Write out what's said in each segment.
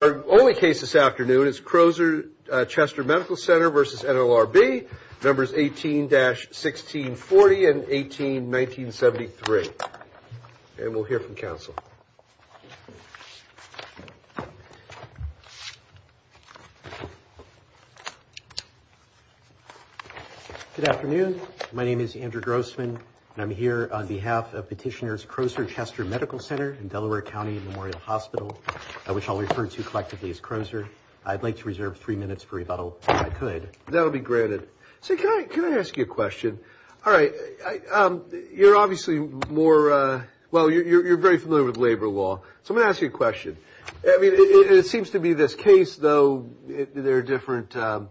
Our only case this afternoon is Crozer Chester Medical Center v. NLRB, members 18-1640 and 18-1973. And we'll hear from counsel. Good afternoon. My name is Andrew Grossman and I'm here on behalf of petitioners Crozer Chester Medical Center in Delaware County Memorial Hospital, which I'll refer to collectively as Crozer. I'd like to reserve three minutes for rebuttal if I could. That'll be granted. So can I ask you a question? All right. You're obviously more, well, you're very familiar with labor law. So I'm gonna ask you a question. I mean, it seems to be this case, though, they're different, sort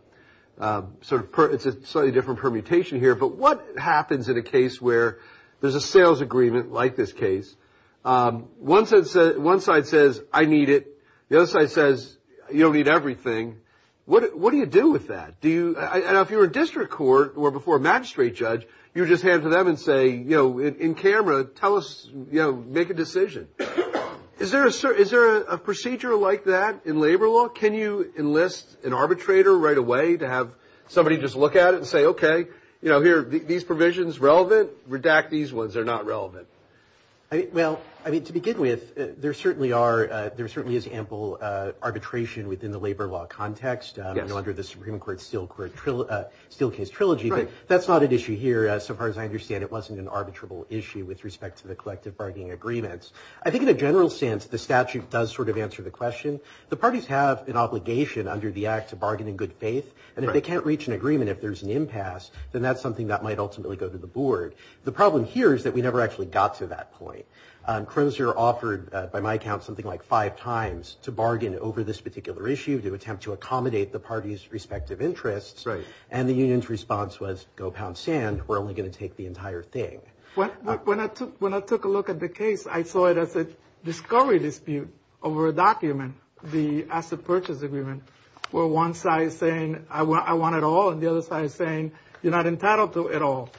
of, it's a slightly different permutation here. But what happens in a case where there's a sales agreement like this case, one side says, I need it. The other side says, you don't need everything. What do you do with that? Do you, if you're a district court or before a magistrate judge, you just hand to them and say, you know, in camera, tell us, you know, make a decision. Is there a procedure like that in labor law? Can you enlist an arbitrator right away to have somebody just look at it and say, okay, you know, here, these provisions relevant, redact these ones that are not relevant. Well, I mean, to begin with, there certainly are, there certainly is ample arbitration within the labor law context under the Supreme Court Steelcase Trilogy. But that's not an issue here. So far as I understand, it wasn't an arbitrable issue with respect to the collective bargaining agreements. I think in a general sense, the statute does sort of answer the question. The parties have an obligation under the Act to bargain in good faith. And if they can't reach an impasse, then that's something that might ultimately go to the board. The problem here is that we never actually got to that point. Crozier offered, by my account, something like five times to bargain over this particular issue, to attempt to accommodate the parties' respective interests. Right. And the union's response was, go pound sand. We're only going to take the entire thing. When I took a look at the case, I saw it as a discovery dispute over a document, the asset purchase agreement, where one side is saying, I want it all, and the other side is saying, you're not entitled to it all.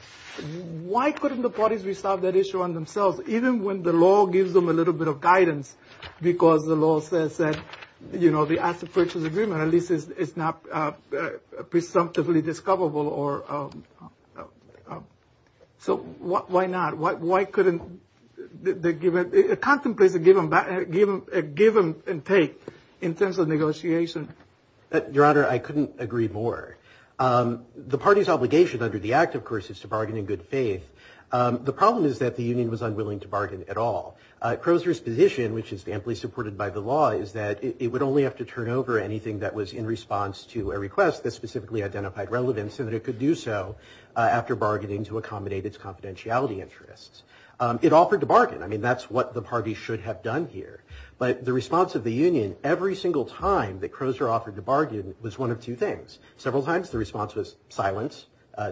Why couldn't the parties resolve that issue on themselves, even when the law gives them a little bit of guidance? Because the law says that, you know, the asset purchase agreement, at least, is not presumptively discoverable. Or so why not? Why couldn't they contemplate a given take in terms of negotiation? Your Honor, I couldn't agree more. The parties' obligation under the Act, of course, is to bargain in good faith. The problem is that the union was unwilling to bargain at all. Crozier's position, which is amply supported by the law, is that it would only have to turn over anything that was in response to a request that specifically identified relevance, and that it could do so after bargaining to accommodate its confidentiality interests. It offered to bargain. I mean, that's what the parties should have done here. But the response of the union, every single time that Crozier offered to bargain, was one of two things. Several times, the response was silence,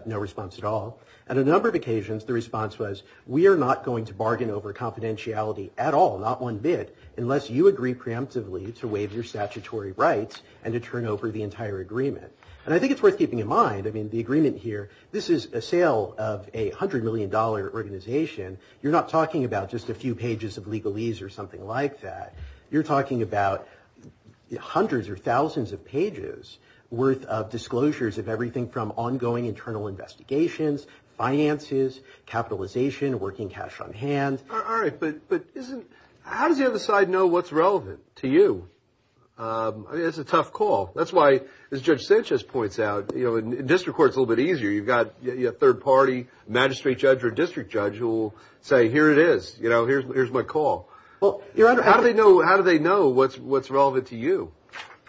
no response at all. And a number of occasions, the response was, we are not going to bargain over confidentiality at all, not one bit, unless you agree preemptively to waive your statutory rights and to turn over the entire agreement. And I think it's worth keeping in mind, I mean, the agreement here, this is a sale of a $100 million organization. You're not talking about just a few pages of legalese or something like that. You're talking about hundreds or thousands of pages worth of disclosures of everything from ongoing internal investigations, finances, capitalization, working cash on hand. All right. But how does the other side know what's relevant to you? It's a tough call. That's why, as Judge Sanchez points out, in district court, it's a little bit easier. You've got your third party, magistrate judge or district judge, who will say, here it is. Here's my call. How do they know what's relevant to you?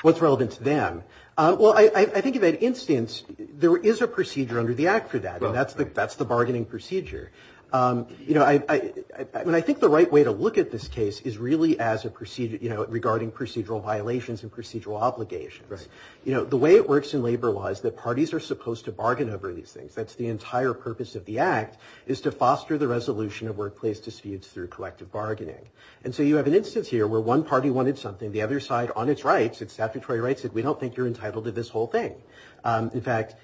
What's relevant to them? Well, I think, in that instance, there is a procedure under the act for that. And that's the bargaining procedure. You know, I mean, I think the right way to look at this case is really as a procedure, you know, regarding procedural violations and procedural obligations. Right. You know, the way it works in labor law is that parties are supposed to bargain over these things. That's the entire purpose of the act, is to foster the resolution of workplace disputes through collective bargaining. And so you have an instance here where one party wanted something, the other side, on its rights, its statutory rights, said, we don't think you're entitled to this whole thing. In fact,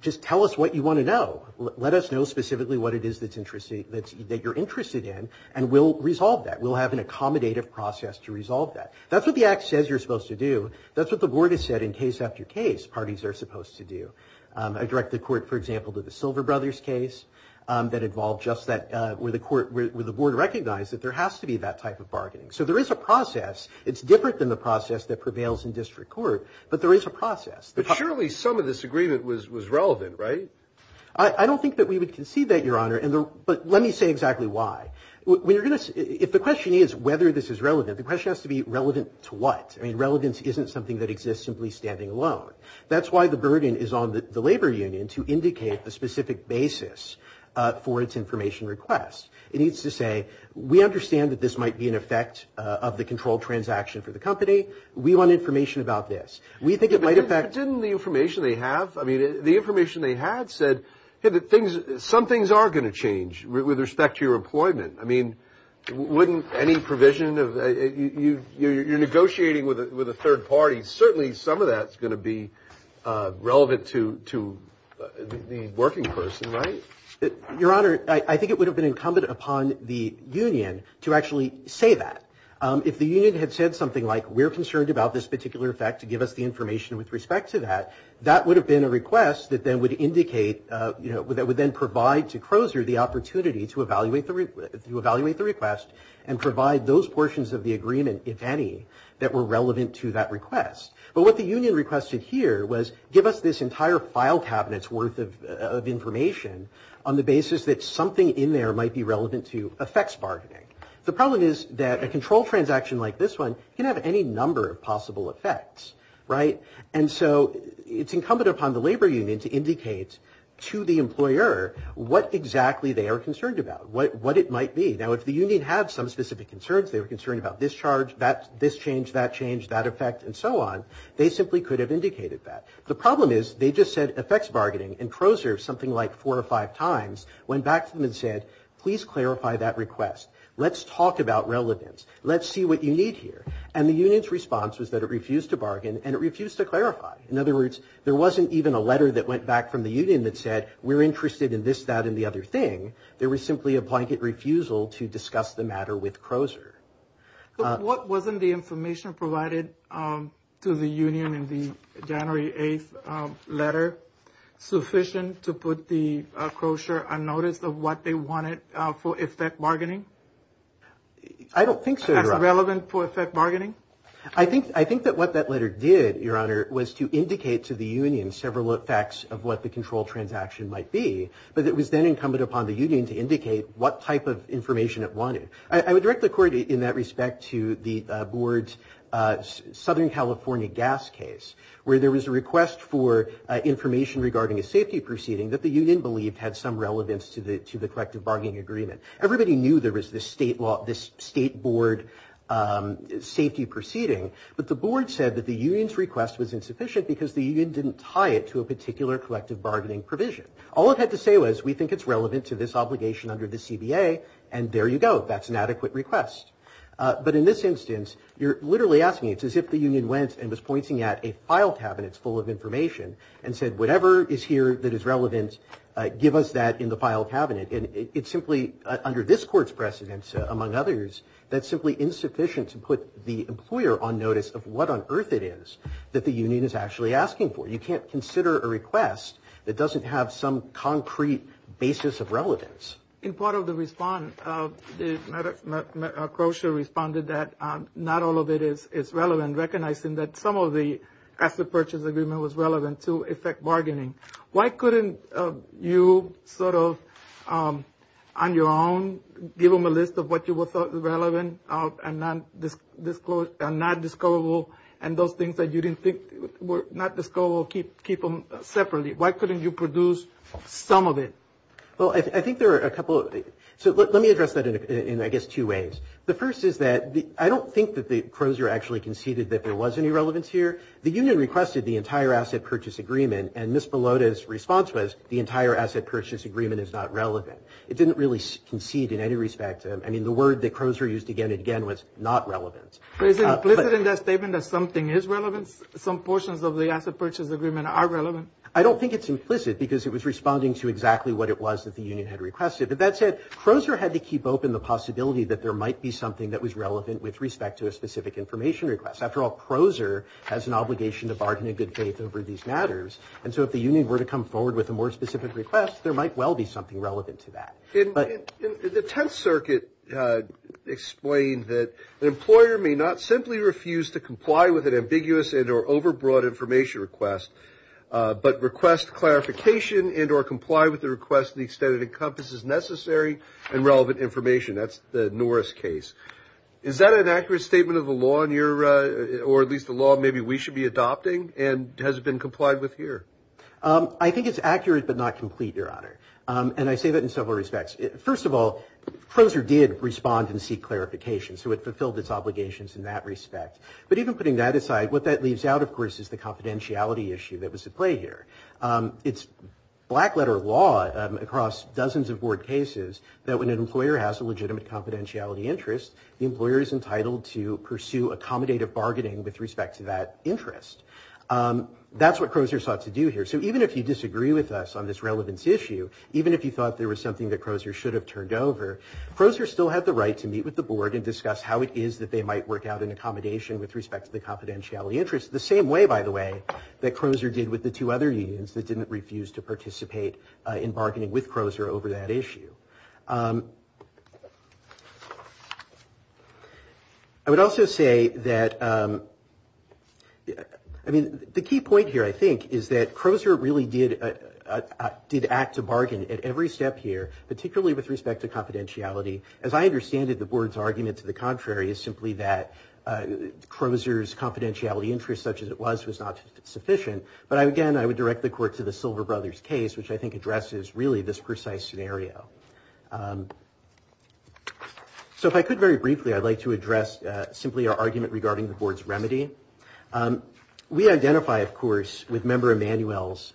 just tell us what you want to know. Let us know specifically what it is that you're interested in and we'll resolve that. We'll have an accommodative process to resolve that. That's what the act says you're supposed to do. That's what the board has said in case after case, parties are supposed to do. I direct the court, for example, to the Silver Brothers case that involved just that, where the board recognized that there has to be that type of bargaining. So there is a process. It's different than the process that prevails in district court, but there is a process. But surely some of this agreement was relevant, right? I don't think that we would concede that, Your Honor. But let me say exactly why. If the question is whether this is relevant, the question has to be relevant to what? I mean, relevance isn't something that exists simply standing alone. That's why the burden is on the labor union to indicate a specific basis for its information request. It needs to say, we understand that this might be an effect of the controlled transaction for the company. We want information about this. We think it might affect... Your Honor, I think it would have been incumbent upon the union to actually say that. If the union had said something like, we're concerned about this particular effect to give us the information with respect to that, that would have been a request that then would indicate, that would then provide to Crozer the opportunity to evaluate the request and provide those portions of the agreement, if any, that were relevant to that request. But what the union requested here was give us this entire file cabinet's worth of information on the basis that something in there might be relevant to effects bargaining. The problem is that a control transaction like this can have any number of possible effects, right? And so it's incumbent upon the labor union to indicate to the employer what exactly they are concerned about, what it might be. Now, if the union had some specific concerns, they were concerned about this charge, this change, that change, that effect, and so on, they simply could have indicated that. The problem is they just said effects bargaining, and Crozer, something like four or five times, went back to them and clarified that request. Let's talk about relevance. Let's see what you need here. And the union's response was that it refused to bargain and it refused to clarify. In other words, there wasn't even a letter that went back from the union that said, we're interested in this, that, and the other thing. There was simply a blanket refusal to discuss the matter with Crozer. What wasn't the information provided to the union in the January 8th letter sufficient to put the Crozer on notice of what they wanted for effect bargaining? I don't think so, Your Honor. As relevant for effect bargaining? I think that what that letter did, Your Honor, was to indicate to the union several effects of what the control transaction might be, but it was then incumbent upon the union to indicate what type of information it wanted. I would direct the court in that respect to the board's California gas case, where there was a request for information regarding a safety proceeding that the union believed had some relevance to the collective bargaining agreement. Everybody knew there was this state board safety proceeding, but the board said that the union's request was insufficient because the union didn't tie it to a particular collective bargaining provision. All it had to say was, we think it's relevant to this obligation under the CBA, and there you go. That's an adequate request. But in this instance, you're literally asking, it's as if the union went and was pointing at a file cabinet full of information and said, whatever is here that is relevant, give us that in the file cabinet. And it's simply, under this court's precedence, among others, that's simply insufficient to put the employer on notice of what on earth it is that the union is actually asking for. You can't consider a request In part of the response, Crozier responded that not all of it is relevant, recognizing that some of the asset purchase agreement was relevant to effect bargaining. Why couldn't you sort of, on your own, give them a list of what you thought was relevant and not discoverable, and those things that you didn't think were not discoverable, keep them separately? Why couldn't you produce some of it? Well, I think there are a couple of, so let me address that in, I guess, two ways. The first is that I don't think that Crozier actually conceded that there was any relevance here. The union requested the entire asset purchase agreement, and Ms. Malota's response was, the entire asset purchase agreement is not relevant. It didn't really concede in any respect. I mean, the word that Crozier used again and again was not relevant. But is it implicit in that statement that something is relevant? Some portions of the asset purchase agreement are relevant. I don't think it's implicit, because it was responding to exactly what it was that the union had requested. But that said, Crozier had to keep open the possibility that there might be something that was relevant with respect to a specific information request. After all, Crozier has an obligation to bargain in good faith over these matters. And so if the union were to come forward with a more specific request, there might well be something relevant to that. In the Tenth Circuit explained that an employer may not simply refuse to comply with an ambiguous and or overbroad information request, but request clarification and or comply with the request to the extent it encompasses necessary and relevant information. That's the Norris case. Is that an accurate statement of the law in your, or at least the law maybe we should be adopting, and has it been complied with here? I think it's accurate, but not complete, Your Honor. And I say that in several respects. First of all, Crozier did respond and seek clarification. So it fulfilled its of course, is the confidentiality issue that was at play here. It's black letter law across dozens of board cases that when an employer has a legitimate confidentiality interest, the employer is entitled to pursue accommodative bargaining with respect to that interest. That's what Crozier sought to do here. So even if you disagree with us on this relevance issue, even if you thought there was something that Crozier should have turned over, Crozier still had the right to meet with the board and discuss how it is that they might work out an accommodation with respect to the confidentiality interest. The same way, by the way, that Crozier did with the two other unions that didn't refuse to participate in bargaining with Crozier over that issue. I would also say that, I mean, the key point here, I think, is that Crozier really did act to bargain at every step here, particularly with respect to confidentiality. As I understand it, the board's argument to the contrary is simply that Crozier's confidentiality interest, such as it was, was not sufficient. But again, I would direct the court to the Silver Brothers case, which I think addresses really this precise scenario. So if I could very briefly, I'd like to address simply our argument regarding the board's remedy. We identify, of course, with Member Emanuel's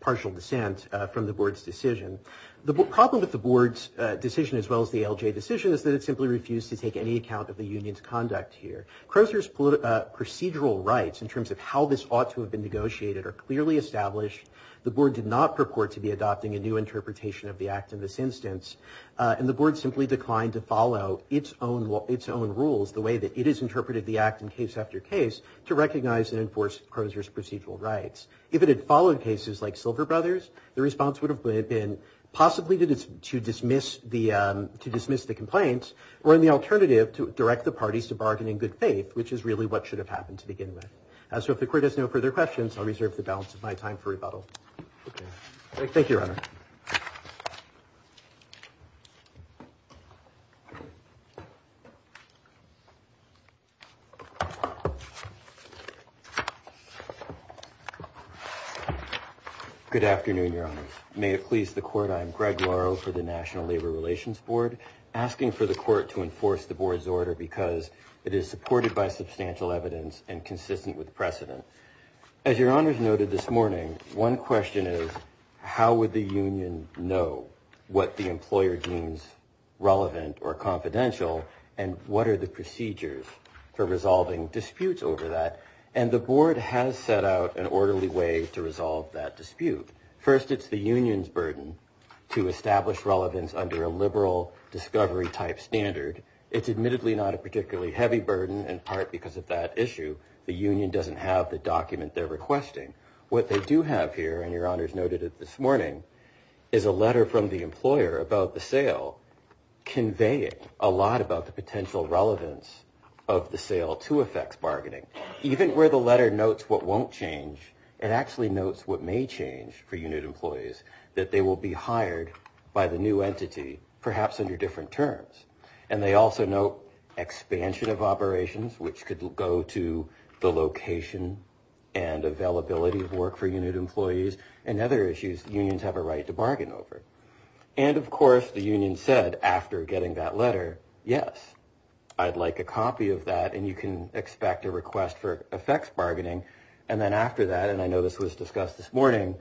partial dissent from the board's decision. The problem with the board's decision, as well as the LJ decision, is that it simply refused to take any account of the union's conduct here. Crozier's procedural rights, in terms of how this ought to have been negotiated, are clearly established. The board did not purport to be adopting a new interpretation of the act in this instance. And the board simply declined to follow its own rules, the way that it has interpreted the act in case after case, to recognize and enforce Crozier's procedural rights. If it had followed cases like Silver Brothers, the response would have been possibly to dismiss the complaint, or in the alternative, to direct the parties to bargain in good faith, which is really what should have happened to begin with. So if the court has no further questions, I'll reserve the balance of my time for rebuttal. Thank you, Your Honor. Good afternoon, Your Honor. May it please the court, I am Greg Laro for the National Labor Relations Board, asking for the court to enforce the board's order because it is supported by substantial evidence and consistent with precedent. As Your Honor has noted this morning, one question is, how would the union know what the employer deems relevant or confidential, and what are the procedures for resolving disputes over that? And the board has set out an orderly way to resolve that dispute. First, it's the union's burden to establish relevance under a liberal discovery type standard. It's admittedly not a particularly heavy burden, in part because of that issue. The union doesn't have the document they're requesting. What they do have here, and Your Honor's noted it this morning, is a letter from the employer about the sale, conveying a lot about the potential relevance of the sale to effects bargaining. Even where the letter notes what won't change, it actually notes what may change for unit employees, that they will be hired by the new entity, perhaps under different terms. And they also note expansion of operations, which could go to the location and availability of work for unit employees, and other issues unions have a right to bargain over. And of course, the union said after getting that letter, yes, I'd like a copy of that, and you can expect a request for effects bargaining. And then after that, and I know this was discussed this morning,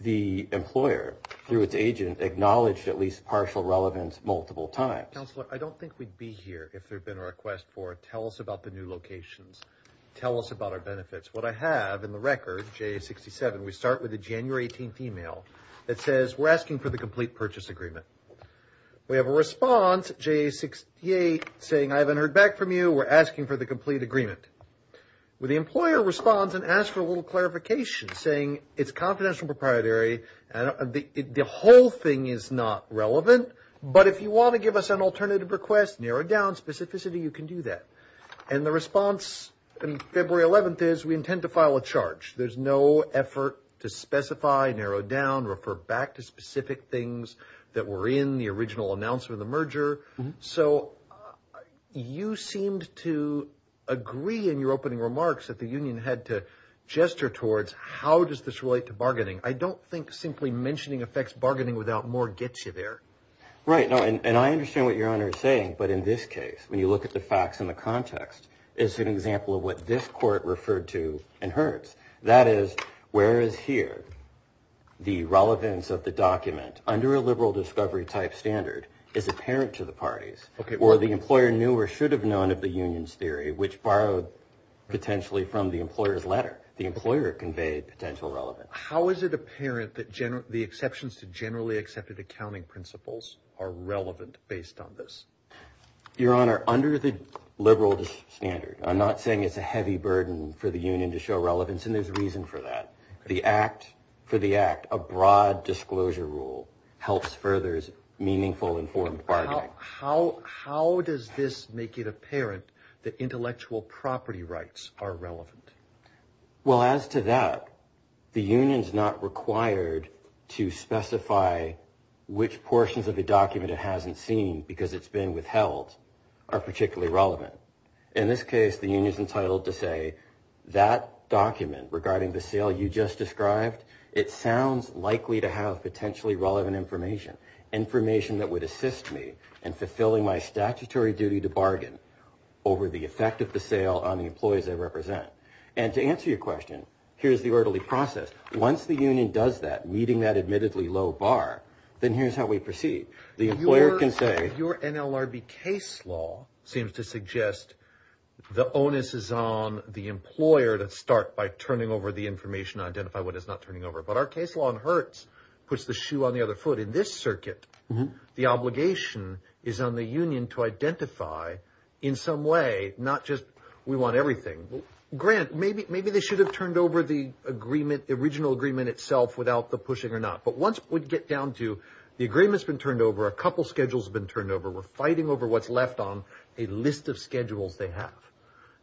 the employer, through its agent, acknowledged at least partial relevance multiple times. Counselor, I don't think we'd be here if there'd been a request for tell us about the new locations. Tell us about our benefits. What I have in the record, JA 67, we start with a January 18th email that says, we're asking for the complete purchase agreement. We have a response, JA 68, saying I haven't heard back from you, we're asking for the complete agreement. The employer responds and asks for a little clarification, saying it's confidential proprietary, and the whole thing is not relevant, but if you want to give us an alternative request, narrowed down specificity, you can do that. And the response in February 11th is, we intend to file a charge. There's no effort to specify, narrow down, refer back to specific things that were in the original announcement of the merger. So you seemed to agree in your opening remarks that the union had to gesture towards, how does this relate to bargaining? I don't think simply mentioning effects bargaining without more gets you there. Right, no, and I understand what your honor is saying, but in this case, when you look at the facts in the context, it's an example of what this court referred to in Hertz. That is, whereas here, the relevance of the document under a liberal discovery type standard is apparent to the parties, or the employer knew or should have known of the union's theory, which borrowed potentially from the employer's letter. The employer conveyed potential relevance. How is it apparent that the exceptions to generally accepted accounting principles are relevant based on this? Your honor, under the liberal standard, I'm not saying it's a heavy burden for the union to show relevance, and there's reason for that. The act, for the act, a broad disclosure rule helps furthers meaningful informed bargaining. How does this make it apparent that intellectual property rights are relevant? Well, as to that, the union's not required to specify which portions of the document it hasn't seen because it's been withheld are particularly relevant. In this case, the union is entitled to say that document regarding the sale you just described, it sounds likely to have potentially relevant information, information that would assist me in fulfilling my statutory duty to bargain over the effect of the sale on the employees I represent. And to answer your question, here's the orderly process. Once the union does that, meeting that admittedly low bar, then here's how we proceed. The employer can say... Your NLRB case law seems to suggest the onus is on the employer to start by turning over the information to identify what is not turning over. But our case law in Hertz puts the shoe on the other foot. In this circuit, the obligation is on the union to identify in some way, not just we want everything. Grant, maybe they should have turned over the original agreement itself without the pushing or not. But once we get down to the agreement's been turned over, a couple schedules have been turned over. We're fighting over what's left on a list of schedules they have.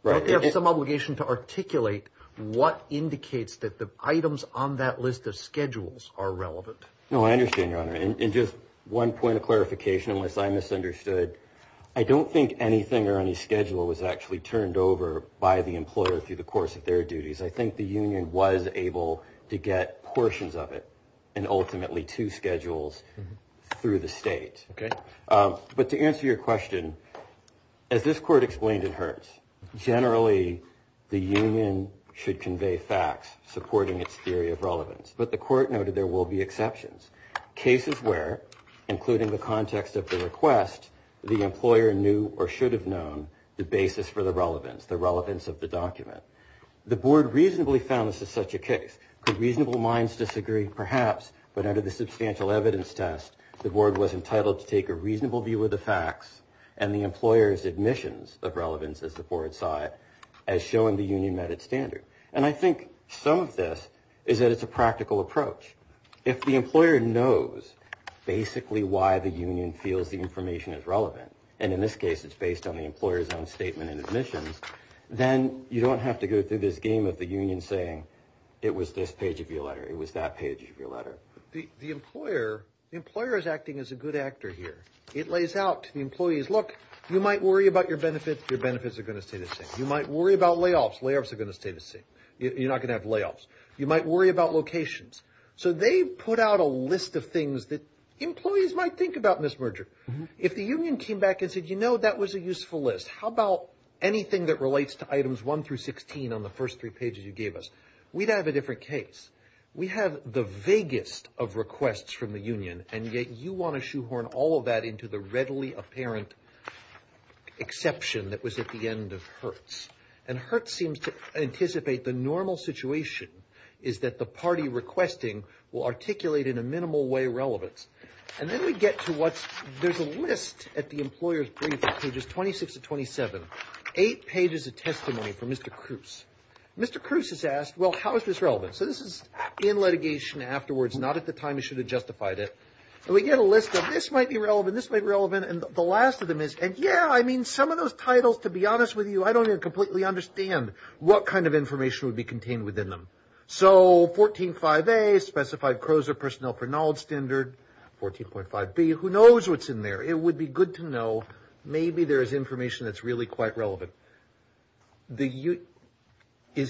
Right. They have some obligation to articulate what indicates that the items on that list of schedules are relevant. No, I understand, Your Honor. And just one point of clarification, unless I misunderstood. I don't think anything or any schedule was actually turned over by the and ultimately two schedules through the state. But to answer your question, as this court explained in Hertz, generally the union should convey facts supporting its theory of relevance. But the court noted there will be exceptions. Cases where, including the context of the request, the employer knew or should have known the basis for the relevance, the relevance of the document. The board reasonably found this is such a case. Could reasonable minds disagree? Perhaps. But under the substantial evidence test, the board was entitled to take a reasonable view of the facts and the employer's admissions of relevance, as the board saw it, as showing the union met its standard. And I think some of this is that it's a practical approach. If the employer knows basically why the union feels the information is relevant, and in this case, it's based on the you don't have to go through this game of the union saying, it was this page of your letter. It was that page of your letter. The employer is acting as a good actor here. It lays out to the employees, look, you might worry about your benefits. Your benefits are going to stay the same. You might worry about layoffs. Layoffs are going to stay the same. You're not going to have layoffs. You might worry about locations. So they put out a list of things that employees might think about in this merger. If the union came back and said, you know, that was a useful list. How about anything that relates to items 1 through 16 on the first three pages you gave us? We'd have a different case. We have the vaguest of requests from the union, and yet you want to shoehorn all of that into the readily apparent exception that was at the end of Hertz. And Hertz seems to anticipate the normal situation is that the party requesting will articulate in a minimal way relevance. And then we get to what's there's a list at the employer's briefing pages 26 to 27. Eight pages of testimony from Mr. Cruz. Mr. Cruz has asked, well, how is this relevant? So this is in litigation afterwards, not at the time you should have justified it. And we get a list of this might be relevant, this might be relevant. And the last of them is, and yeah, I mean, some of those titles, to be honest with you, I don't even completely understand what kind of information would be contained within them. So 14.5A, specified CROSA personnel for knowledge standard, 14.5B, who knows what's in there? It would be good to know. Maybe there is information that's really quite relevant. Is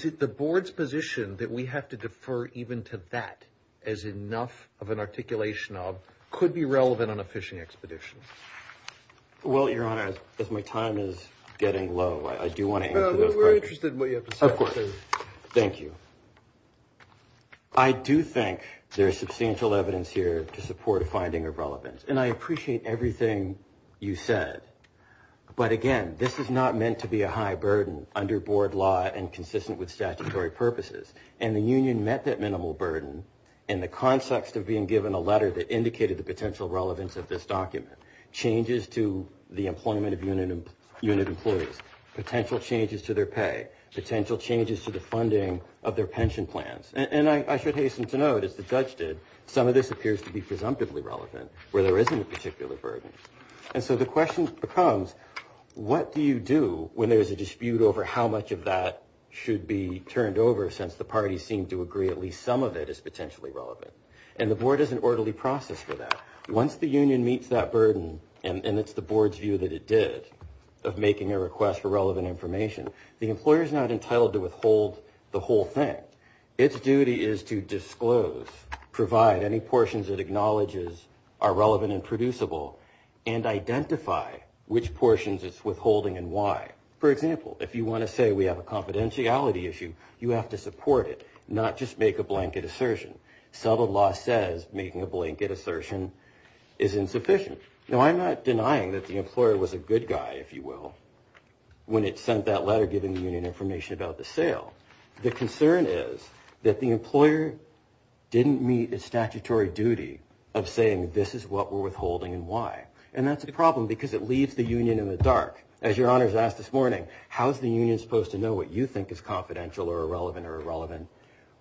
it the board's position that we have to defer even to that as enough of an articulation of could be relevant on a fishing expedition? Well, Your Honor, as my time is getting low, I do want to answer those questions. We're interested in what you have to say. Of course. Thank you. I do think there's substantial evidence here to support a you said. But again, this is not meant to be a high burden under board law and consistent with statutory purposes. And the union met that minimal burden in the context of being given a letter that indicated the potential relevance of this document. Changes to the employment of unit employees, potential changes to their pay, potential changes to the funding of their pension plans. And I should hasten to note, as the judge did, some of this appears to be burdens. And so the question becomes, what do you do when there is a dispute over how much of that should be turned over since the parties seem to agree at least some of it is potentially relevant? And the board is an orderly process for that. Once the union meets that burden, and it's the board's view that it did of making a request for relevant information, the employer is not entitled to withhold the whole thing. Its duty is to disclose, provide any portions that acknowledges are relevant and producible, and identify which portions it's withholding and why. For example, if you want to say we have a confidentiality issue, you have to support it, not just make a blanket assertion. Subtle law says making a blanket assertion is insufficient. Now, I'm not denying that the employer was a good guy, if you will, when it sent that letter giving the union information about the sale. The concern is that the employer didn't meet its statutory duty of saying this is what we're withholding and why. And that's a problem because it leaves the union in the dark. As your honors asked this morning, how is the union supposed to know what you think is confidential or irrelevant or irrelevant?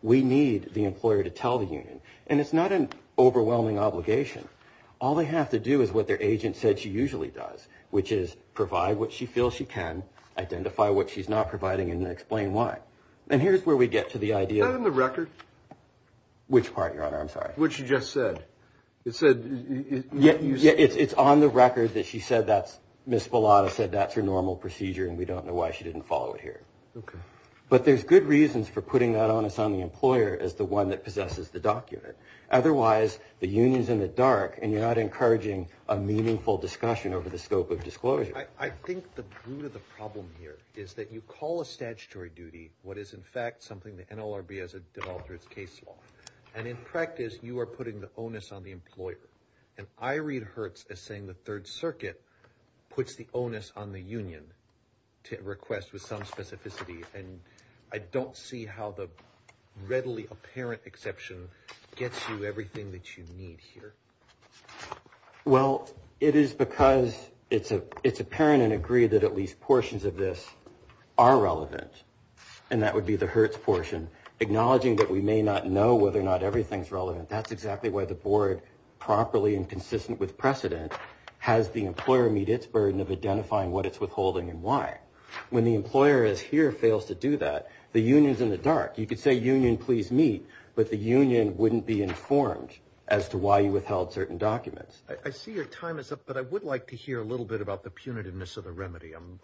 We need the employer to tell the union. And it's not an overwhelming obligation. All they have to do is what their agent said she usually does, which is provide what she feels she can, identify what she's not providing, and explain why. And here's where we get to the idea... Is that on the record? Which part, your honor? I'm sorry. What she just said. It said... Yeah, it's on the record that she said that's... Ms. Spallotta said that's her normal procedure, and we don't know why she didn't follow it here. Okay. But there's good reasons for putting that on us on the employer as the one that possesses the document. Otherwise, the union's in the dark, and you're not encouraging a meaningful discussion over the scope of disclosure. I think the root of the problem here is that you call a statutory duty what is, in fact, something the NLRB has developed through its case law. And in practice, you are putting the onus on the employer. And I read Hertz as saying the Third Circuit puts the onus on the union to request with some specificity. And I don't see how the readily apparent exception gets you everything that you need here. Well, it is because it's apparent and agreed that at least portions of this are relevant. And that would be the Hertz portion. Acknowledging that we may not know whether or not everything's relevant, that's exactly why the board, properly and consistent with precedent, has the employer meet its burden of identifying what it's withholding and why. When the employer is here, fails to do that, the union's in the dark. You could say union, please meet, but the union wouldn't be informed as to why you withheld certain documents. I see your time is up, but I would like to hear a little bit about the punitiveness of the remedy. I'm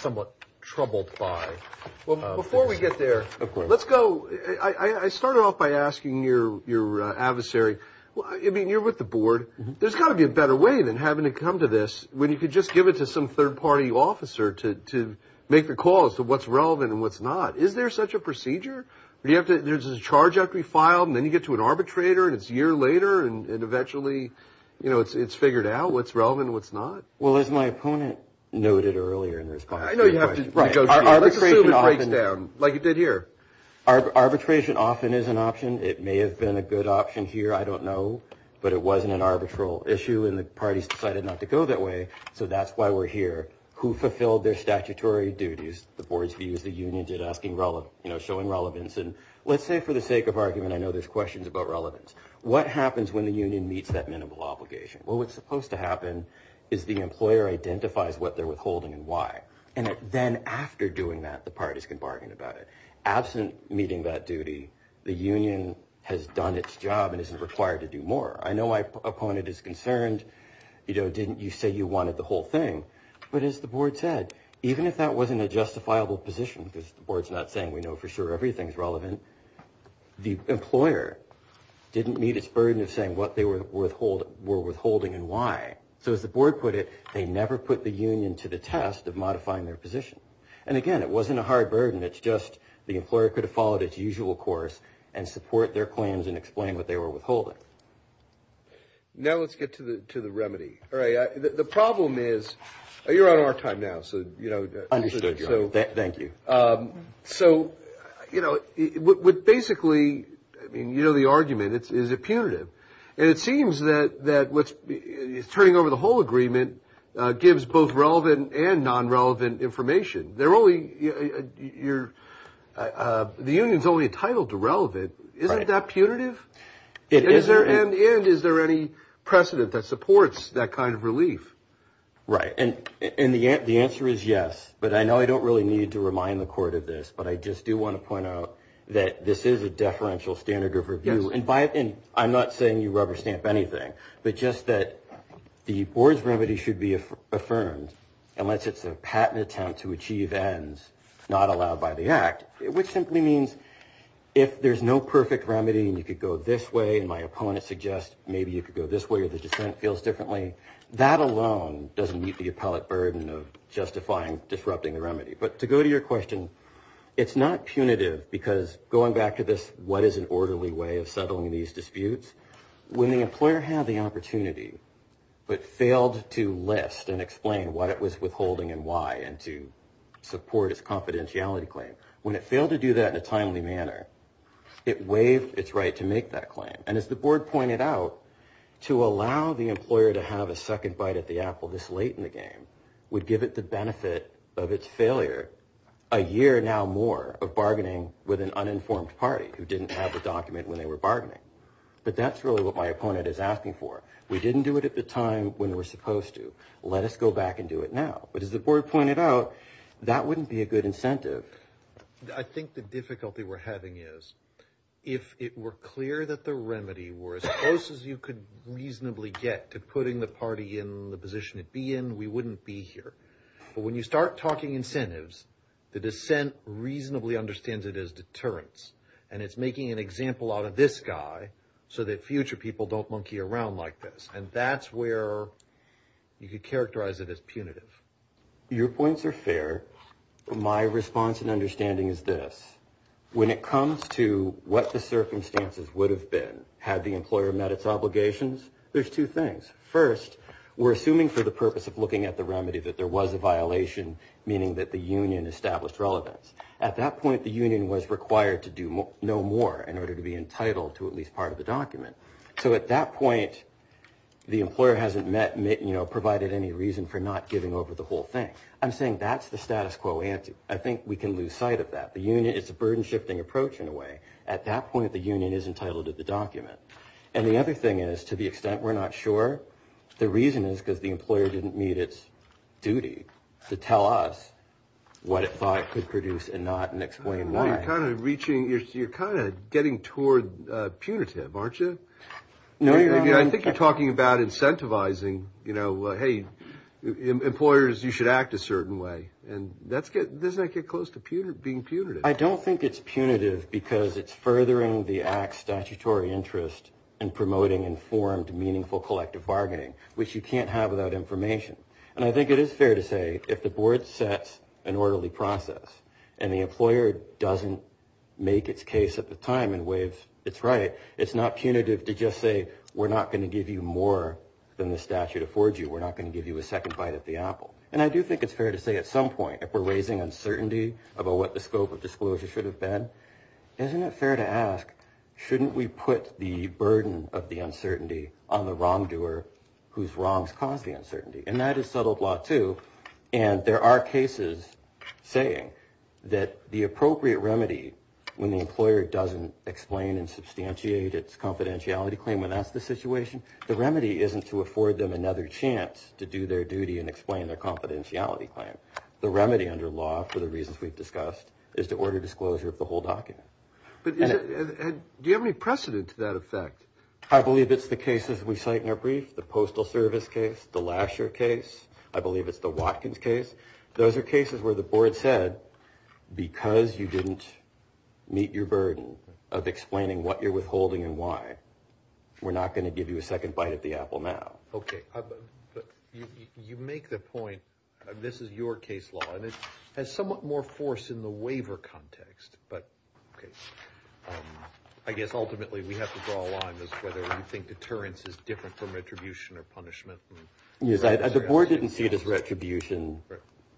somewhat troubled by this. Well, before we get there, let's go. I started off by asking your adversary, well, I mean, you're with the board. There's got to be a better way than having to come to this when you could just give it to some third party officer to make the calls to what's relevant and what's not. Is there such a procedure where you have to, there's a charge after you filed and then you get to an arbitrator and it's a year later and eventually, you know, it's figured out what's relevant and what's not. Well, as my opponent noted earlier in response to your question, arbitration often is an option. It may have been a good option here. I don't know, but it wasn't an arbitral issue and the parties decided not to go that way. So that's why we're here. Who fulfilled their statutory duties? The board's views, the union did asking relevant, you know, showing relevance. And let's say for the sake of argument, I know there's questions about relevance. What happens when the union meets that minimal obligation? Well, what's supposed to happen is the employer identifies what they're withholding and why. And then after doing that, the parties can bargain about it. Absent meeting that duty, the union has done its job and isn't required to do more. I know my opponent is concerned. You know, didn't you say you wanted the whole thing? But as the board said, even if that wasn't a justifiable position, because the board's not saying we know for sure everything's relevant, the employer didn't meet its burden of saying what they were withholding and why. So as the board put it, they never put the union to the test of modifying their position. And again, it wasn't a hard burden. It's just the employer could have followed its usual course and support their claims and explain what they were withholding. Now, let's get to the to the remedy. All right. The problem is you're on our time now. So, you know, understood. Thank you. So, you know, what basically I mean, you know, the argument is a punitive. And it seems that that what's turning over the whole agreement gives both relevant and non-relevant information. They're only you're the union's only entitled to relevant. Isn't that punitive? Is there and is there any precedent that supports that kind of relief? Right. And in the end, the answer is yes. But I know I don't really need to remind the court of this, but I just do want to point out that this is a deferential standard of review. And I'm not saying you rubber stamp anything, but just that the board's remedy should be affirmed unless it's a patent attempt to achieve ends not allowed by the act, which simply means if there's no perfect remedy and you could go this way and my opponent suggest maybe you could go this way or the dissent feels differently. That alone doesn't meet the appellate burden of justifying disrupting the remedy. But to go to your question, it's not punitive because going back to this, what is an orderly way of settling these disputes when the employer had the opportunity but failed to list and explain what it was withholding and why and to support its confidentiality claim when it failed to do that in a timely manner, it waived its right to make that claim. And as the board pointed out, to allow the employer to have a second bite at the apple this late in the game would give it the benefit of its failure a year now more of bargaining with an uninformed party who didn't have the document when they were bargaining. But that's really what my opponent is asking for. We didn't do it at the time when we're supposed to. Let us go back and do it now. But as the board pointed out, that wouldn't be a good incentive. I think the difficulty we're having is if it were clear that the remedy were as close as you could reasonably get to putting the party in the position it'd be in, we wouldn't be here. But when you start talking incentives, the dissent reasonably understands it as deterrence. And it's making an example out of this guy so that future people don't monkey around like this. And that's where you could characterize it as punitive. Your points are fair. My response and understanding is this. When it comes to what the circumstances would have been had the employer met its obligations, there's two things. First, we're assuming for the purpose of looking at the remedy that there was a violation, meaning that the union established relevance. At that point, the union was required to do no more in order to be entitled to at least part of the document. So at that point, the employer hasn't provided any reason for not giving over the whole thing. I'm saying that's the status quo answer. I think we can lose sight of that. It's a burden-shifting approach in a way. At that point, the union is entitled to the document. And the other thing is, to the extent we're not sure, the reason is because the employer didn't meet its duty to tell us what it thought it could produce and not and explain why. Well, you're kind of getting toward punitive, aren't you? I think you're talking about incentivizing, you know, hey, employers, you should act a certain way. And doesn't that get close to being punitive? I don't think it's punitive because it's furthering the act's statutory interest in promoting informed, meaningful, collective bargaining, which you can't have without information. And I think it is fair to say, if the board sets an orderly process and the employer doesn't make its case at the time and waives its right, it's not punitive to just say, we're not going to give you more than the statute affords you. We're not going to give you a second bite at the apple. And I do think it's fair to say, at some point, if we're raising uncertainty about what the scope of disclosure should have been, isn't it fair to ask, shouldn't we put the burden of the uncertainty on the wrongdoer whose wrongs caused the uncertainty? And that is settled law, too. And there are cases saying that the appropriate remedy, when the employer doesn't explain and substantiate its confidentiality claim when that's the situation, the remedy isn't to afford them another chance to do their duty and explain their confidentiality claim. The remedy under law, for the reasons we've discussed, is to order disclosure of the whole document. But do you have any precedent to that effect? I believe it's the cases we cite in our brief, the postal service case, the Lasher case. I believe it's the Watkins case. Those are cases where the board said, because you didn't meet your burden of explaining what you're withholding and why, we're not going to give you a second bite at the apple now. OK. You make the point, this is your case law, and it has somewhat more force in the waiver context. But I guess, ultimately, we have to draw a line as to whether you think deterrence is different from retribution or punishment. Yes, the board didn't see it as retribution.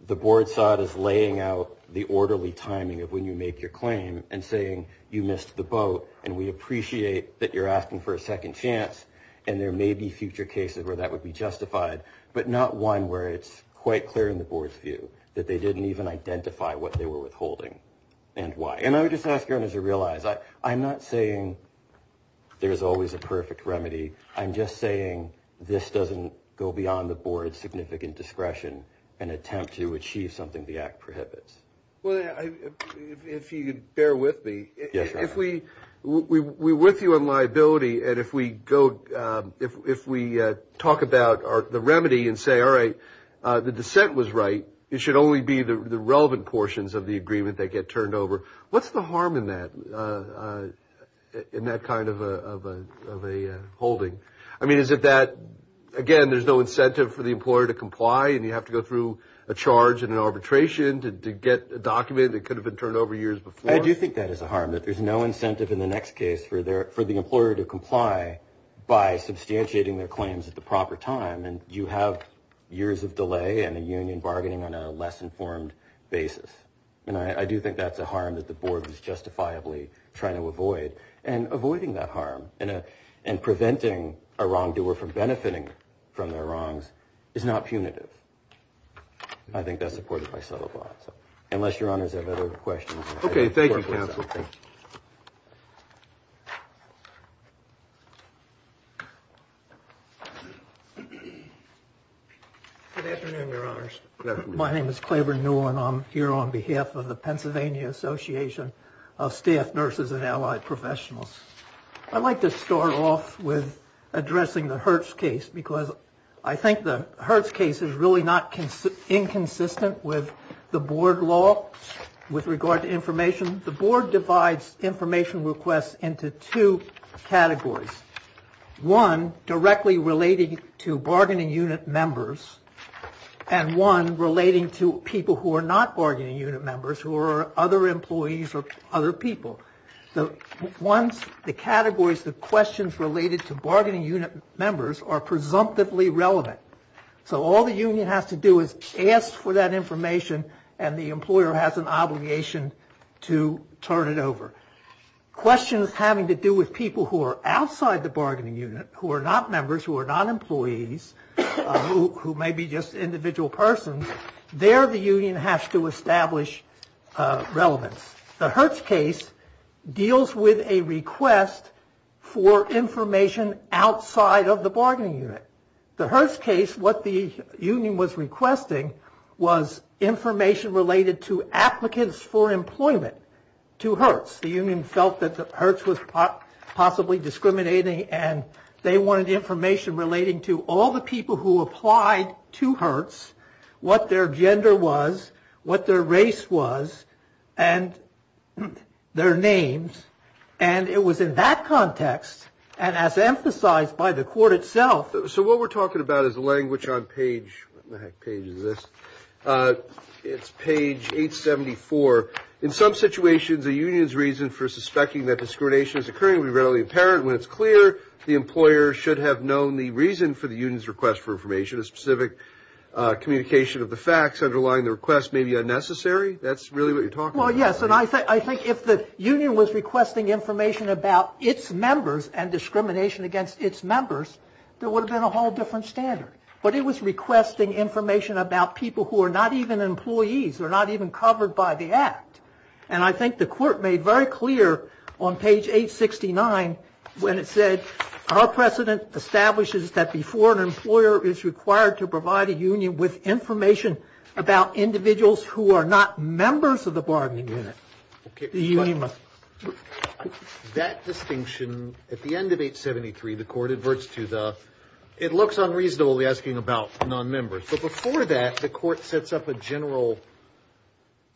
The board saw it as laying out the orderly timing of when you make your claim and saying, you missed the boat, and we appreciate that you're asking for a second chance. And there may be future cases where that would be justified, but not one where it's quite clear in the board's view that they didn't even identify what they were withholding and why. And I would just ask you, as you realize, I'm not saying there's always a perfect remedy. I'm just saying this doesn't go beyond the board's significant discretion and attempt to achieve something the act prohibits. Well, if you could bear with me, if we're with you on liability, and if we go, if we talk about the remedy and say, all right, the dissent was right, it should only be the relevant portions of the agreement that get turned over. What's the harm in that, kind of a holding? I mean, is it that, again, there's no incentive for the employer to comply, and you have to go through a charge and an arbitration to get a document that could have been turned over years before? I do think that is a harm, that there's no incentive in the next case for the employer to comply by substantiating their claims at the proper time. And you have years of delay and a union bargaining on a less informed basis. And I do think that's a harm that the board is justifiably trying to avoid. And avoiding that harm, and preventing a wrongdoer from benefiting from their wrongs, is not punitive. I think that's supported by subtle clause. Unless your honors have other questions. Okay, thank you, counsel. Good afternoon, your honors. My name is Claiborne Newell, and I'm here on behalf of the Pennsylvania Association of Staff Nurses and Allied Professionals. I'd like to start off with addressing the Hertz case, because I think the Hertz case is really not inconsistent with the Hertz case. The board divides information requests into two categories. One, directly relating to bargaining unit members, and one relating to people who are not bargaining unit members, who are other employees or other people. The categories, the questions related to bargaining unit members are presumptively relevant. So all the union has to do is ask for that information, and the employer has an obligation to turn it over. Questions having to do with people who are outside the bargaining unit, who are not members, who are not employees, who may be just individual persons, there the union has to establish relevance. The Hertz case deals with a request for information outside of the bargaining unit. The Hertz case, what the union was requesting, was information related to applicants for employment to Hertz. The union felt that the Hertz was possibly discriminating, and they wanted information relating to all the people who applied to Hertz, what their gender was, what their race was, and their names. And it was in that context, and as emphasized by the court itself. So what we're talking about is the language on page, what the heck page is this? It's page 874. In some situations, the union's reason for suspecting that discrimination is occurring would be readily apparent when it's clear the employer should have known the reason for the union's request for information, a specific communication of the facts underlying the request may be unnecessary. That's really what you're talking about. Well, yes, and I think if the union was requesting information about its members and discrimination against its members, there would have been a different standard. But it was requesting information about people who are not even employees, who are not even covered by the act. And I think the court made very clear on page 869, when it said, our precedent establishes that before an employer is required to provide a union with information about individuals who are not members of the bargaining unit, the union must. And that distinction, at the end of 873, the court adverts to the, it looks unreasonably asking about non-members. But before that, the court sets up a general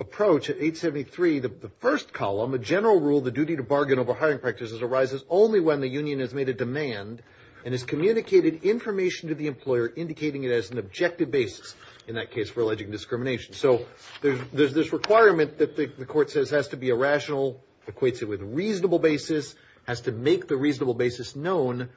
approach at 873, the first column, a general rule, the duty to bargain over hiring practices arises only when the union has made a demand and has communicated information to the employer, indicating it as an objective basis, in that case, for alleging discrimination. So there's this requirement that the court says has to be a rational, equates it with a reasonable basis, has to make the reasonable basis known,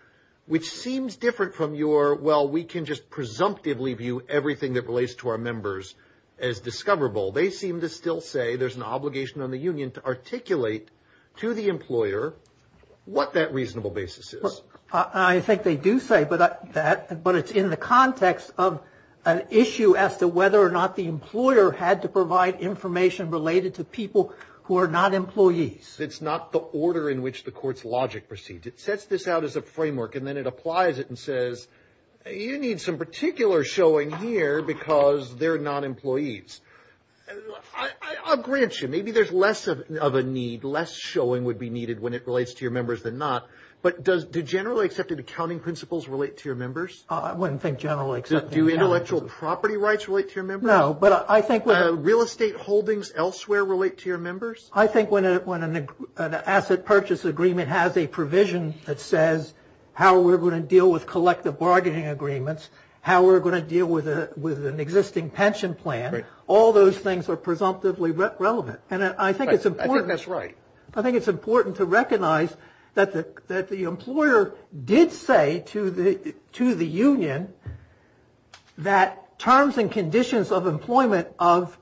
which seems different from your, well, we can just presumptively view everything that relates to our members as discoverable. They seem to still say there's an obligation on the union to articulate to the employer what that reasonable basis is. I think they do say that, but it's in the context of an issue as to whether or not the employer had to provide information related to people who are not employees. It's not the order in which the court's logic proceeds. It sets this out as a framework, and then it applies it and says, you need some particular showing here because they're not employees. I'll grant you, maybe there's less of a need, less showing would be needed when it relates to your members than not, but does the generally accepted accounting principles relate to your members? I wouldn't think generally accepted. Do intellectual property rights relate to your members? No, but I think... Real estate holdings elsewhere relate to your members? I think when an asset purchase agreement has a provision that says how we're going to deal with collective bargaining agreements, how we're going to deal with an existing pension plan, all those things are presumptively relevant, and I think it's important... I think that's right. I think it's important to recognize that the employer did say to the union that terms and conditions of employment of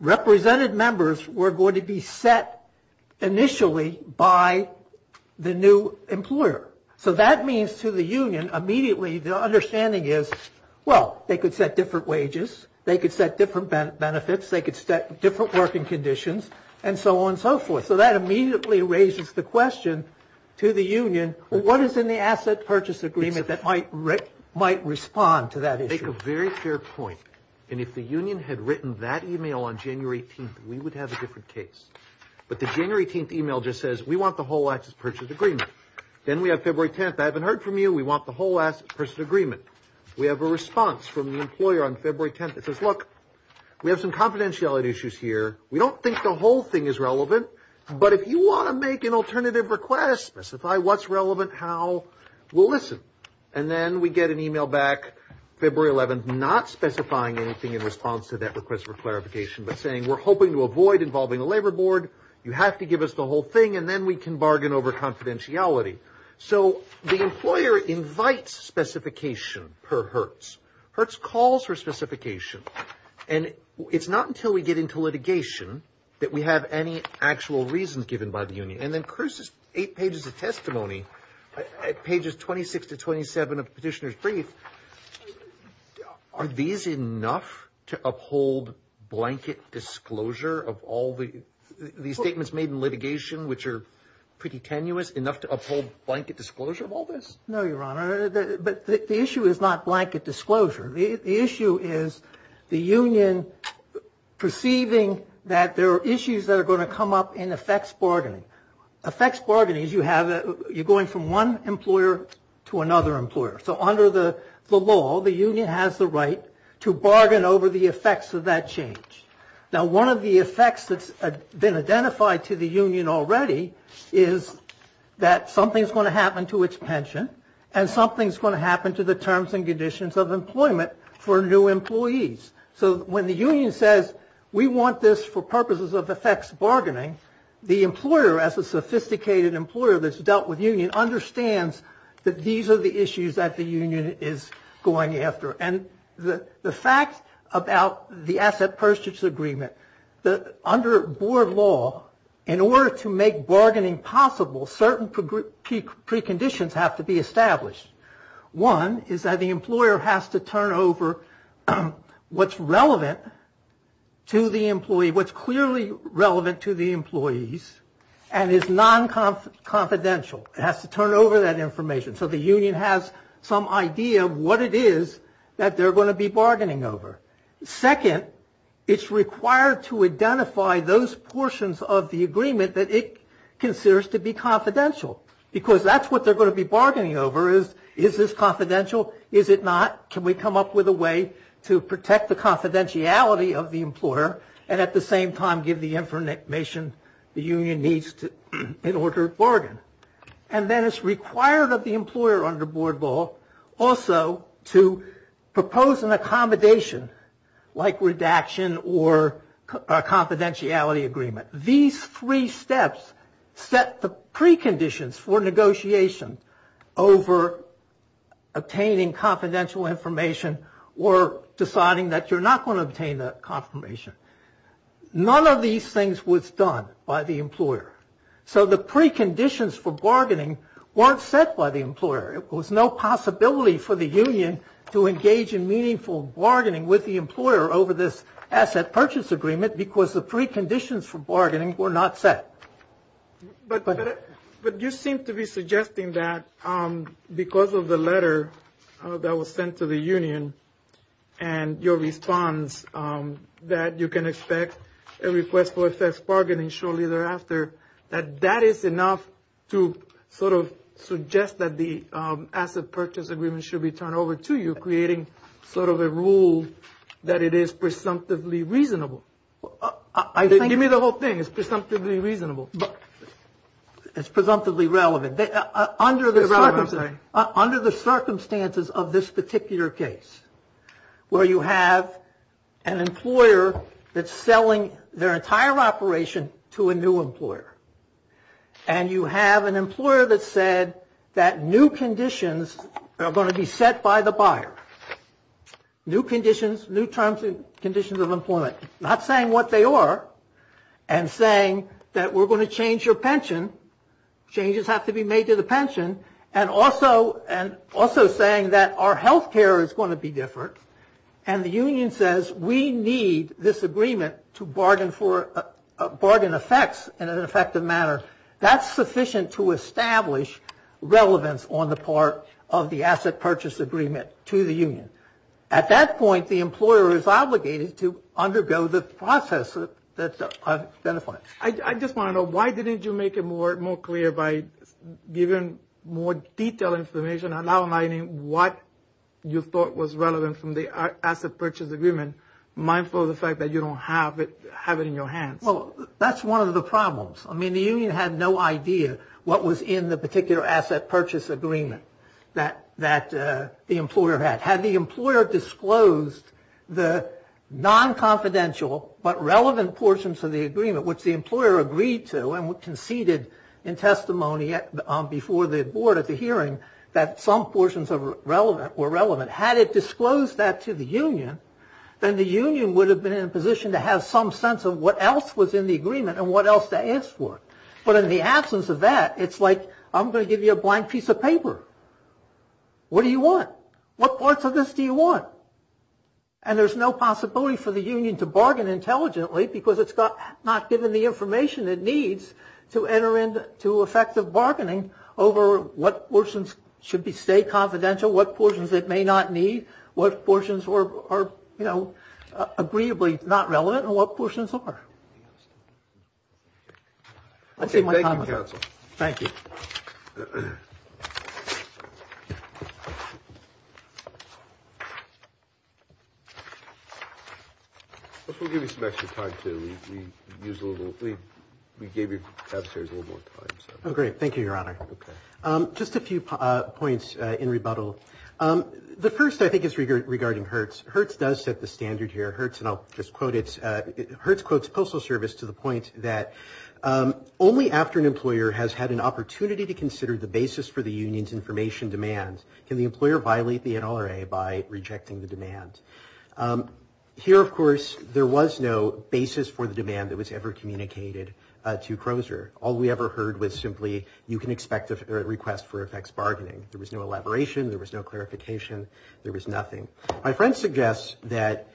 represented members were going to be set initially by the new employer. So that means to the union, immediately, the understanding is, well, they could set different wages, they could set different benefits, they could set different working conditions, and so on and so forth. So that immediately raises the question to the union, what is in the asset purchase agreement that might respond to that issue? To make a very fair point, and if the union had written that email on January 18th, we would have a different case. But the January 18th email just says, we want the whole asset purchase agreement. Then we have February 10th, I haven't heard from you, we want the whole asset purchase agreement. We have a response from the employer on February 10th that says, look, we have some confidentiality issues here, we don't think the whole thing is specified. What's relevant, how, we'll listen. And then we get an email back February 11th, not specifying anything in response to that request for clarification, but saying, we're hoping to avoid involving the labor board, you have to give us the whole thing, and then we can bargain over confidentiality. So the employer invites specification per Hertz. Hertz calls for specification. And it's not until we get into litigation that we have any actual reasons given by the union. And then Chris's eight pages of testimony, pages 26 to 27 of petitioner's brief, are these enough to uphold blanket disclosure of all the statements made in litigation, which are pretty tenuous, enough to uphold blanket disclosure of all this? No, Your Honor. But the issue is not blanket disclosure. The issue is the union perceiving that there are issues that are going to come up in effects bargaining. Effects bargaining is you have, you're going from one employer to another employer. So under the law, the union has the right to bargain over the effects of that change. Now, one of the effects that's been identified to the union already is that something's going to happen to its pension, and something's going to happen to the terms and conditions of employment for new employees. So when the union says, we want this for purposes of effects bargaining, the employer, as a sophisticated employer that's dealt with union, understands that these are the issues that the union is going after. And the fact about the asset purchase agreement, that under board law, in order to make bargaining possible, certain preconditions have to be established. One is that the employer has to turn over what's relevant to the employee, what's clearly relevant to the employees, and is non-confidential. It has to turn over that information. So the union has some idea of what it is that they're going to be bargaining over. Second, it's required to identify those portions of the agreement that it considers to be confidential. Because that's what they're going to be bargaining over is, is this confidential? Is it not? Can we come up with a way to protect the confidentiality of the employer, and at the same time give the information the union needs in order to bargain? And then it's required of the employer under board law also to propose an accommodation, like redaction or a confidentiality agreement. These three steps set the preconditions for over-obtaining confidential information or deciding that you're not going to obtain that confirmation. None of these things was done by the employer. So the preconditions for bargaining weren't set by the employer. There was no possibility for the union to engage in meaningful bargaining with the employer over this asset purchase agreement because the preconditions for bargaining were not set. But you seem to be suggesting that because of the letter that was sent to the union and your response that you can expect a request for a fixed bargaining shortly thereafter, that that is enough to sort of suggest that the asset purchase agreement should be turned over to you, creating sort of a rule that it is presumptively reasonable. Give me the whole thing. It's presumptively reasonable. It's presumptively relevant. Under the circumstances of this particular case, where you have an employer that's selling their entire operation to a new employer, and you have an employer that said that new conditions are going to be set by the buyer, new conditions, new terms and conditions of employment, not saying what they are and saying that we're going to change your pension, changes have to be made to the pension, and also saying that our health care is going to be different, and the union says we need this agreement to bargain for, bargain effects in an effective manner, that's sufficient to establish relevance on the part of the asset purchase agreement to the union. At that point, the employer is obligated to undergo the process that I've identified. I just want to know, why didn't you make it more clear by giving more detailed information, outlining what you thought was relevant from the asset purchase agreement, mindful of the fact that you don't have it in your hands? Well, that's one of the problems. I mean, the union had no idea what was in the asset purchase agreement that the employer had. Had the employer disclosed the non-confidential but relevant portions of the agreement, which the employer agreed to and conceded in testimony before the board at the hearing that some portions were relevant, had it disclosed that to the union, then the union would have been in a position to have some sense of what else was in the agreement and what else to ask for. But in the absence of that, it's like, I'm going to give you a blank piece of paper. What do you want? What parts of this do you want? And there's no possibility for the union to bargain intelligently because it's not given the information it needs to enter into effective bargaining over what portions should stay confidential, what portions it may not need, what portions are, you know, agreeably not relevant, and what portions are. Okay, thank you, counsel. Thank you. I guess we'll give you some extra time, too. We gave you upstairs a little more time. Oh, great. Thank you, Your Honor. Just a few points in rebuttal. The first, I think, is regarding Hertz. Hertz does set the standard here. Hertz, and I'll just quote it, Hertz quotes Postal Service to the point that only after an employer has had an opportunity to consider the basis for the union's information demands can the employer violate the NRA by rejecting the demand. Here, of course, there was no basis for the demand that was ever communicated to Crozer. All we ever heard was you can expect a request for effects bargaining. There was no elaboration. There was no clarification. There was nothing. My friend suggests that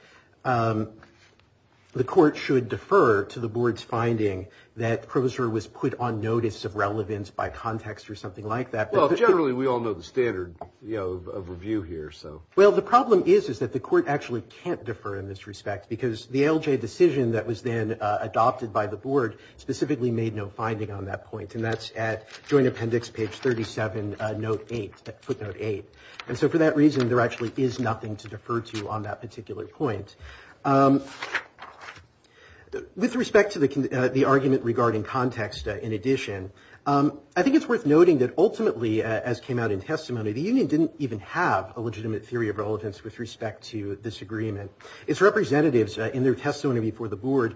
the court should defer to the board's finding that Crozer was put on notice of relevance by context or something like that. Well, generally, we all know the standard, you know, of review here, so. Well, the problem is that the court actually can't defer in this respect because the LJ decision that was then adopted by the board specifically made no finding on that point, and that's at joint appendix page 37, footnote 8. And so for that reason, there actually is nothing to defer to on that particular point. With respect to the argument regarding context, in addition, I think it's worth noting that ultimately, as came out in testimony, the union didn't even have a legitimate theory of relevance with respect to this agreement. Its representatives, in their reeled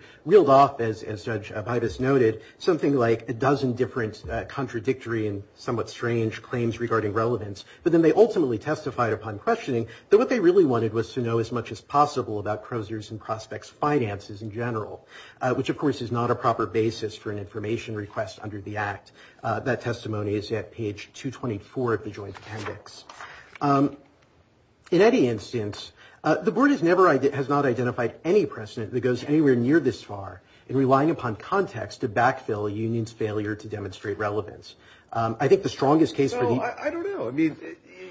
off, as Judge Bivis noted, something like a dozen different contradictory and somewhat strange claims regarding relevance, but then they ultimately testified upon questioning that what they really wanted was to know as much as possible about Crozer's and Prospect's finances in general, which, of course, is not a proper basis for an information request under the Act. That testimony is at page 224 of the joint appendix. In any instance, the board has not identified any precedent that goes anywhere near this far in relying upon context to backfill a union's failure to demonstrate relevance. I think the strongest case for the... No, I don't know. I mean,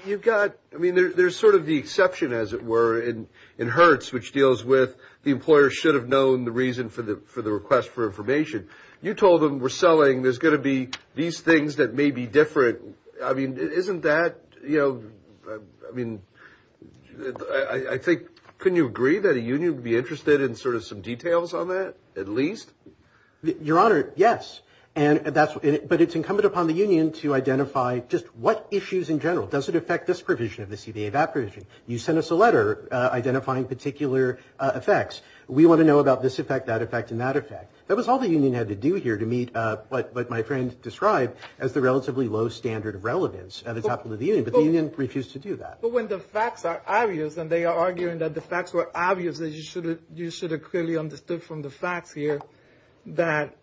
you've got, I mean, there's sort of the exception, as it were, in Hertz, which deals with the employer should have known the reason for the request for information. You told them we're selling, there's going to be these things that may be different. I mean, isn't that, you know, I mean, I think, couldn't you agree that a union would be interested in sort of some details on that, at least? Your Honor, yes. But it's incumbent upon the union to identify just what issues in general. Does it affect this provision of the CBA VAT provision? You sent us a letter identifying particular effects. We want to know about this effect, that effect, and that effect. That was all the union had to do here to meet what my friend described as the relatively low standard of relevance at the top of the union, but the union refused to do that. But when the facts are obvious, and they are arguing that the facts were obvious, that you should have clearly understood from the facts here that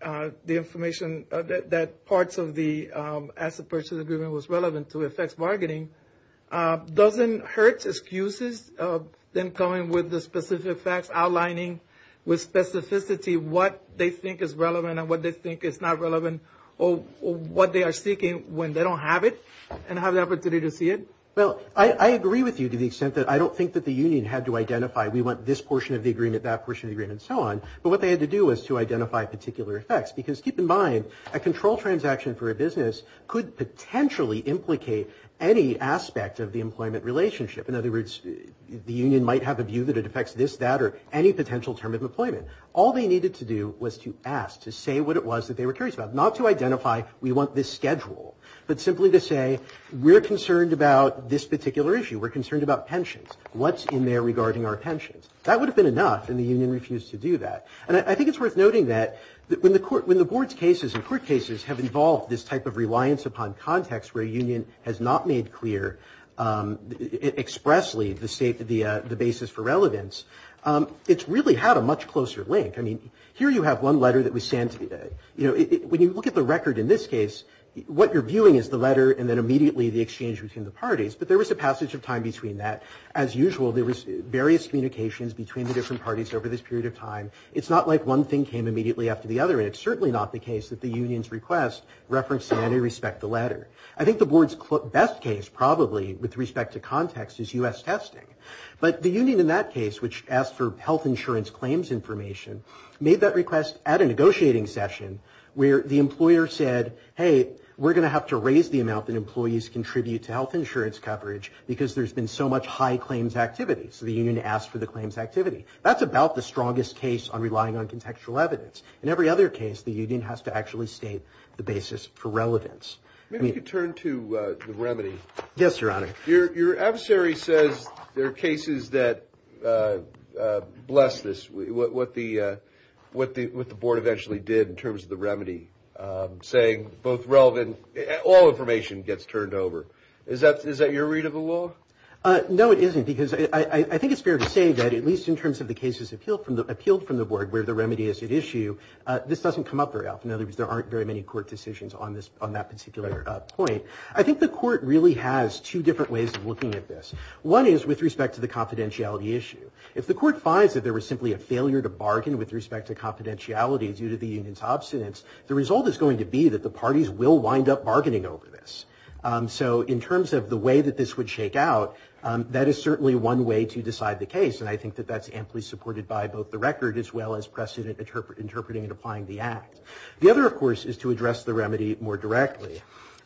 the information, that parts of the asset purchase agreement was relevant to effects bargaining, doesn't Hertz excuses then coming with the specific facts, outlining with specificity what they think is relevant and what they think is not relevant, or what they are seeking when they don't have it and have the opportunity to see it? Well, I agree with you to the extent that I don't think that the union had to identify, we want this portion of the agreement, that portion of the agreement, and so on, but what they had to do was to identify particular effects. Because keep in mind, a control transaction for a business could potentially implicate any aspect of the employment relationship. In other words, the union might have a view that it affects this, that, or any potential term of employment. All they needed to do was to ask, to say what it was that they were curious about. Not to identify, we want this schedule, but simply to say, we're concerned about this particular issue. We're concerned about pensions. What's in there regarding our pensions? That would have been enough, and the union refused to do that. And I think it's worth noting that when the court, when the board's cases and court cases have involved this type of reliance upon context where a union has not made clear expressly the basis for relevance, it's really had a much closer link. I mean, here you have one letter that was sent, you know, when you look at the record in this case, what you're viewing is the letter and then immediately the exchange between the parties. But there was a passage of time between that. As usual, there was various communications between the different parties over this period of time. It's not like one thing came immediately after the other, and it's certainly not the case that the union's request referenced in any respect the latter. I think the board's best case probably with respect to context is U.S. testing. But the union in that case, which asked for health insurance claims information, made that request at a negotiating session where the employer said, hey, we're going to have to raise the amount that employees contribute to health insurance coverage because there's been so much high claims activity. So the union asked for the claims activity. That's about the strongest case on relying on contextual evidence. In every other case, the union has to actually state the basis for relevance. Maybe you could turn to the remedy. Yes, Your Honor. Your adversary says there are cases that, bless this, what the board eventually did in terms of the remedy, saying both relevant, all information gets turned over. Is that your read of the law? No, it isn't, because I think it's fair to say that at least in terms of the board where the remedy is at issue, this doesn't come up very often. In other words, there aren't very many court decisions on that particular point. I think the court really has two different ways of looking at this. One is with respect to the confidentiality issue. If the court finds that there was simply a failure to bargain with respect to confidentiality due to the union's obstinance, the result is going to be that the parties will wind up bargaining over this. So in terms of the way that this would shake out, that is certainly one way to decide the case, and I think that that's amply supported by both the record as well as precedent interpreting and applying the act. The other, of course, is to address the remedy more directly.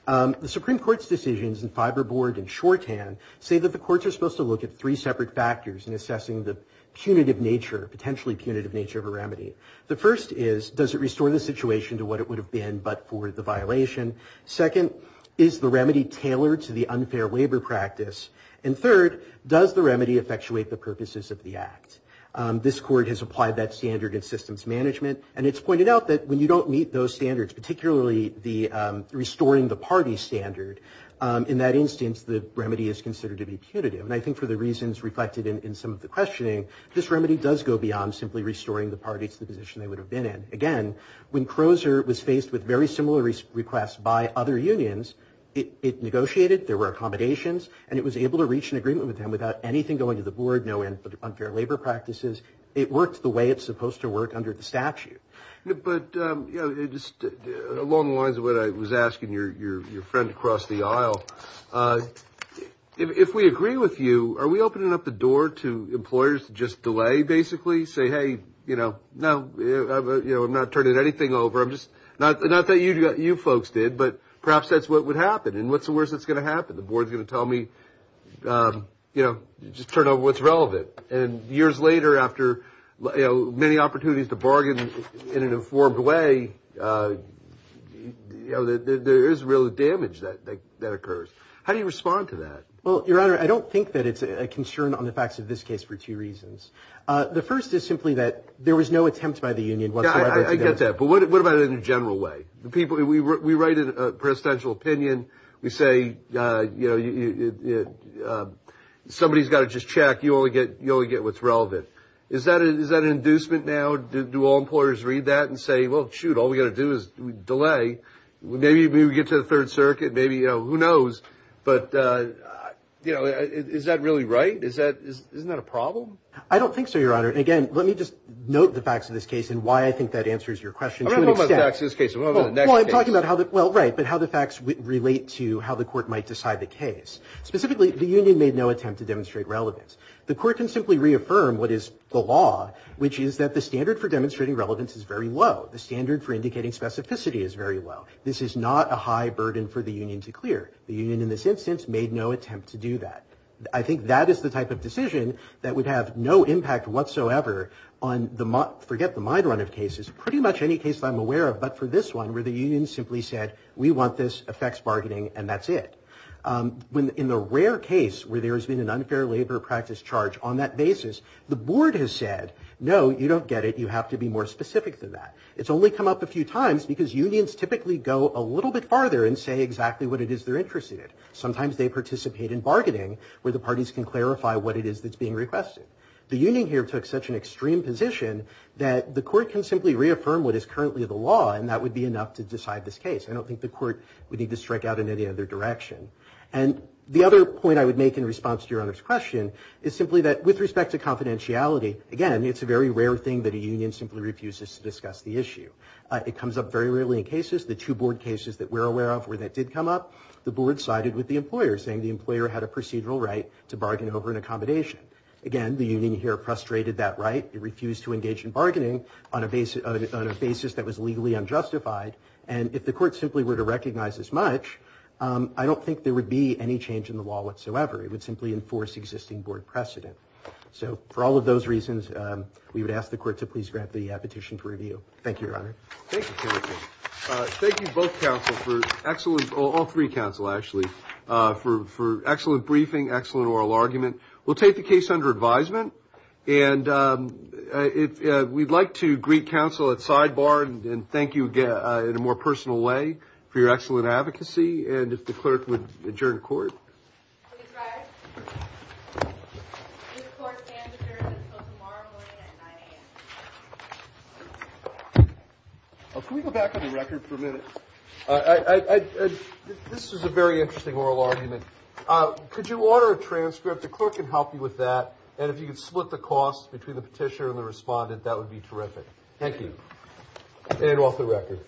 The Supreme Court's decisions in Fiberboard and shorthand say that the courts are supposed to look at three separate factors in assessing the punitive nature, potentially punitive nature, of a remedy. The first is, does it restore the situation to what it would have been, but for the violation? Second, is the remedy tailored to the unfair waiver practice? And third, does the remedy effectuate the purposes of the act? This court has applied that standard in systems management, and it's pointed out that when you don't meet those standards, particularly the restoring the party standard, in that instance, the remedy is considered to be punitive, and I think for the reasons reflected in some of the questioning, this remedy does go beyond simply restoring the parties to the position they would have been in. Again, when Crozer was faced with very similar requests by other unions, it negotiated, there were accommodations, and it was able to reach an agreement with them without anything going to the board, no unfair labor practices. It worked the way it's supposed to work under the statute. But along the lines of what I was asking your friend across the aisle, if we agree with you, are we opening up the door to employers to just delay, basically, say, hey, no, I'm not turning anything over. Not that you folks did, but perhaps that's what would you know, just turn over what's relevant. And years later, after many opportunities to bargain in an informed way, there is real damage that occurs. How do you respond to that? Well, Your Honor, I don't think that it's a concern on the facts of this case for two reasons. The first is simply that there was no attempt by the union whatsoever to do that. I get that, but what about in a general way? We write a presidential opinion. We say, yeah, somebody's got to just check. You only get what's relevant. Is that an inducement now? Do all employers read that and say, well, shoot, all we got to do is delay. Maybe we get to the Third Circuit. Maybe, you know, who knows? But, you know, is that really right? Isn't that a problem? I don't think so, Your Honor. And again, let me just note the facts of this case and why I think that answers your question to an extent. I don't know about the facts of this case. I want to know about the next case. Well, I'm talking about how the, well, specifically, the union made no attempt to demonstrate relevance. The court can simply reaffirm what is the law, which is that the standard for demonstrating relevance is very low. The standard for indicating specificity is very low. This is not a high burden for the union to clear. The union in this instance made no attempt to do that. I think that is the type of decision that would have no impact whatsoever on the, forget the mind run of cases, pretty much any case I'm aware of, but for this one where the union simply said, we want this, affects bargaining, and that's it. In the rare case where there has been an unfair labor practice charge on that basis, the board has said, no, you don't get it. You have to be more specific than that. It's only come up a few times because unions typically go a little bit farther and say exactly what it is they're interested in. Sometimes they participate in bargaining where the parties can clarify what it is that's being requested. The union here took such an extreme position that the court can simply reaffirm what is currently the law, and that would be enough to decide this case. I don't think the And the other point I would make in response to Your Honor's question is simply that with respect to confidentiality, again, it's a very rare thing that a union simply refuses to discuss the issue. It comes up very rarely in cases. The two board cases that we're aware of where that did come up, the board sided with the employer, saying the employer had a procedural right to bargain over an accommodation. Again, the union here frustrated that right. It refused to engage in bargaining on a basis that was legally unjustified, and if the court simply were to recognize as much, I don't think there would be any change in the law whatsoever. It would simply enforce existing board precedent. So for all of those reasons, we would ask the court to please grant the petition for review. Thank you, Your Honor. Thank you. Thank you both counsel for excellent, all three counsel, actually, for excellent briefing, excellent oral argument. We'll take the case under advisement, and we'd like to greet counsel at sidebar and thank you again in a more personal way for your excellent advocacy, and if the clerk would adjourn court. Can we go back on the record for a minute? This is a very interesting oral argument. Could you order a transcript? The clerk can help you with that, and if you could split the cost between the petitioner and the respondent, that would be terrific. Thank you. And off the record. Thank you.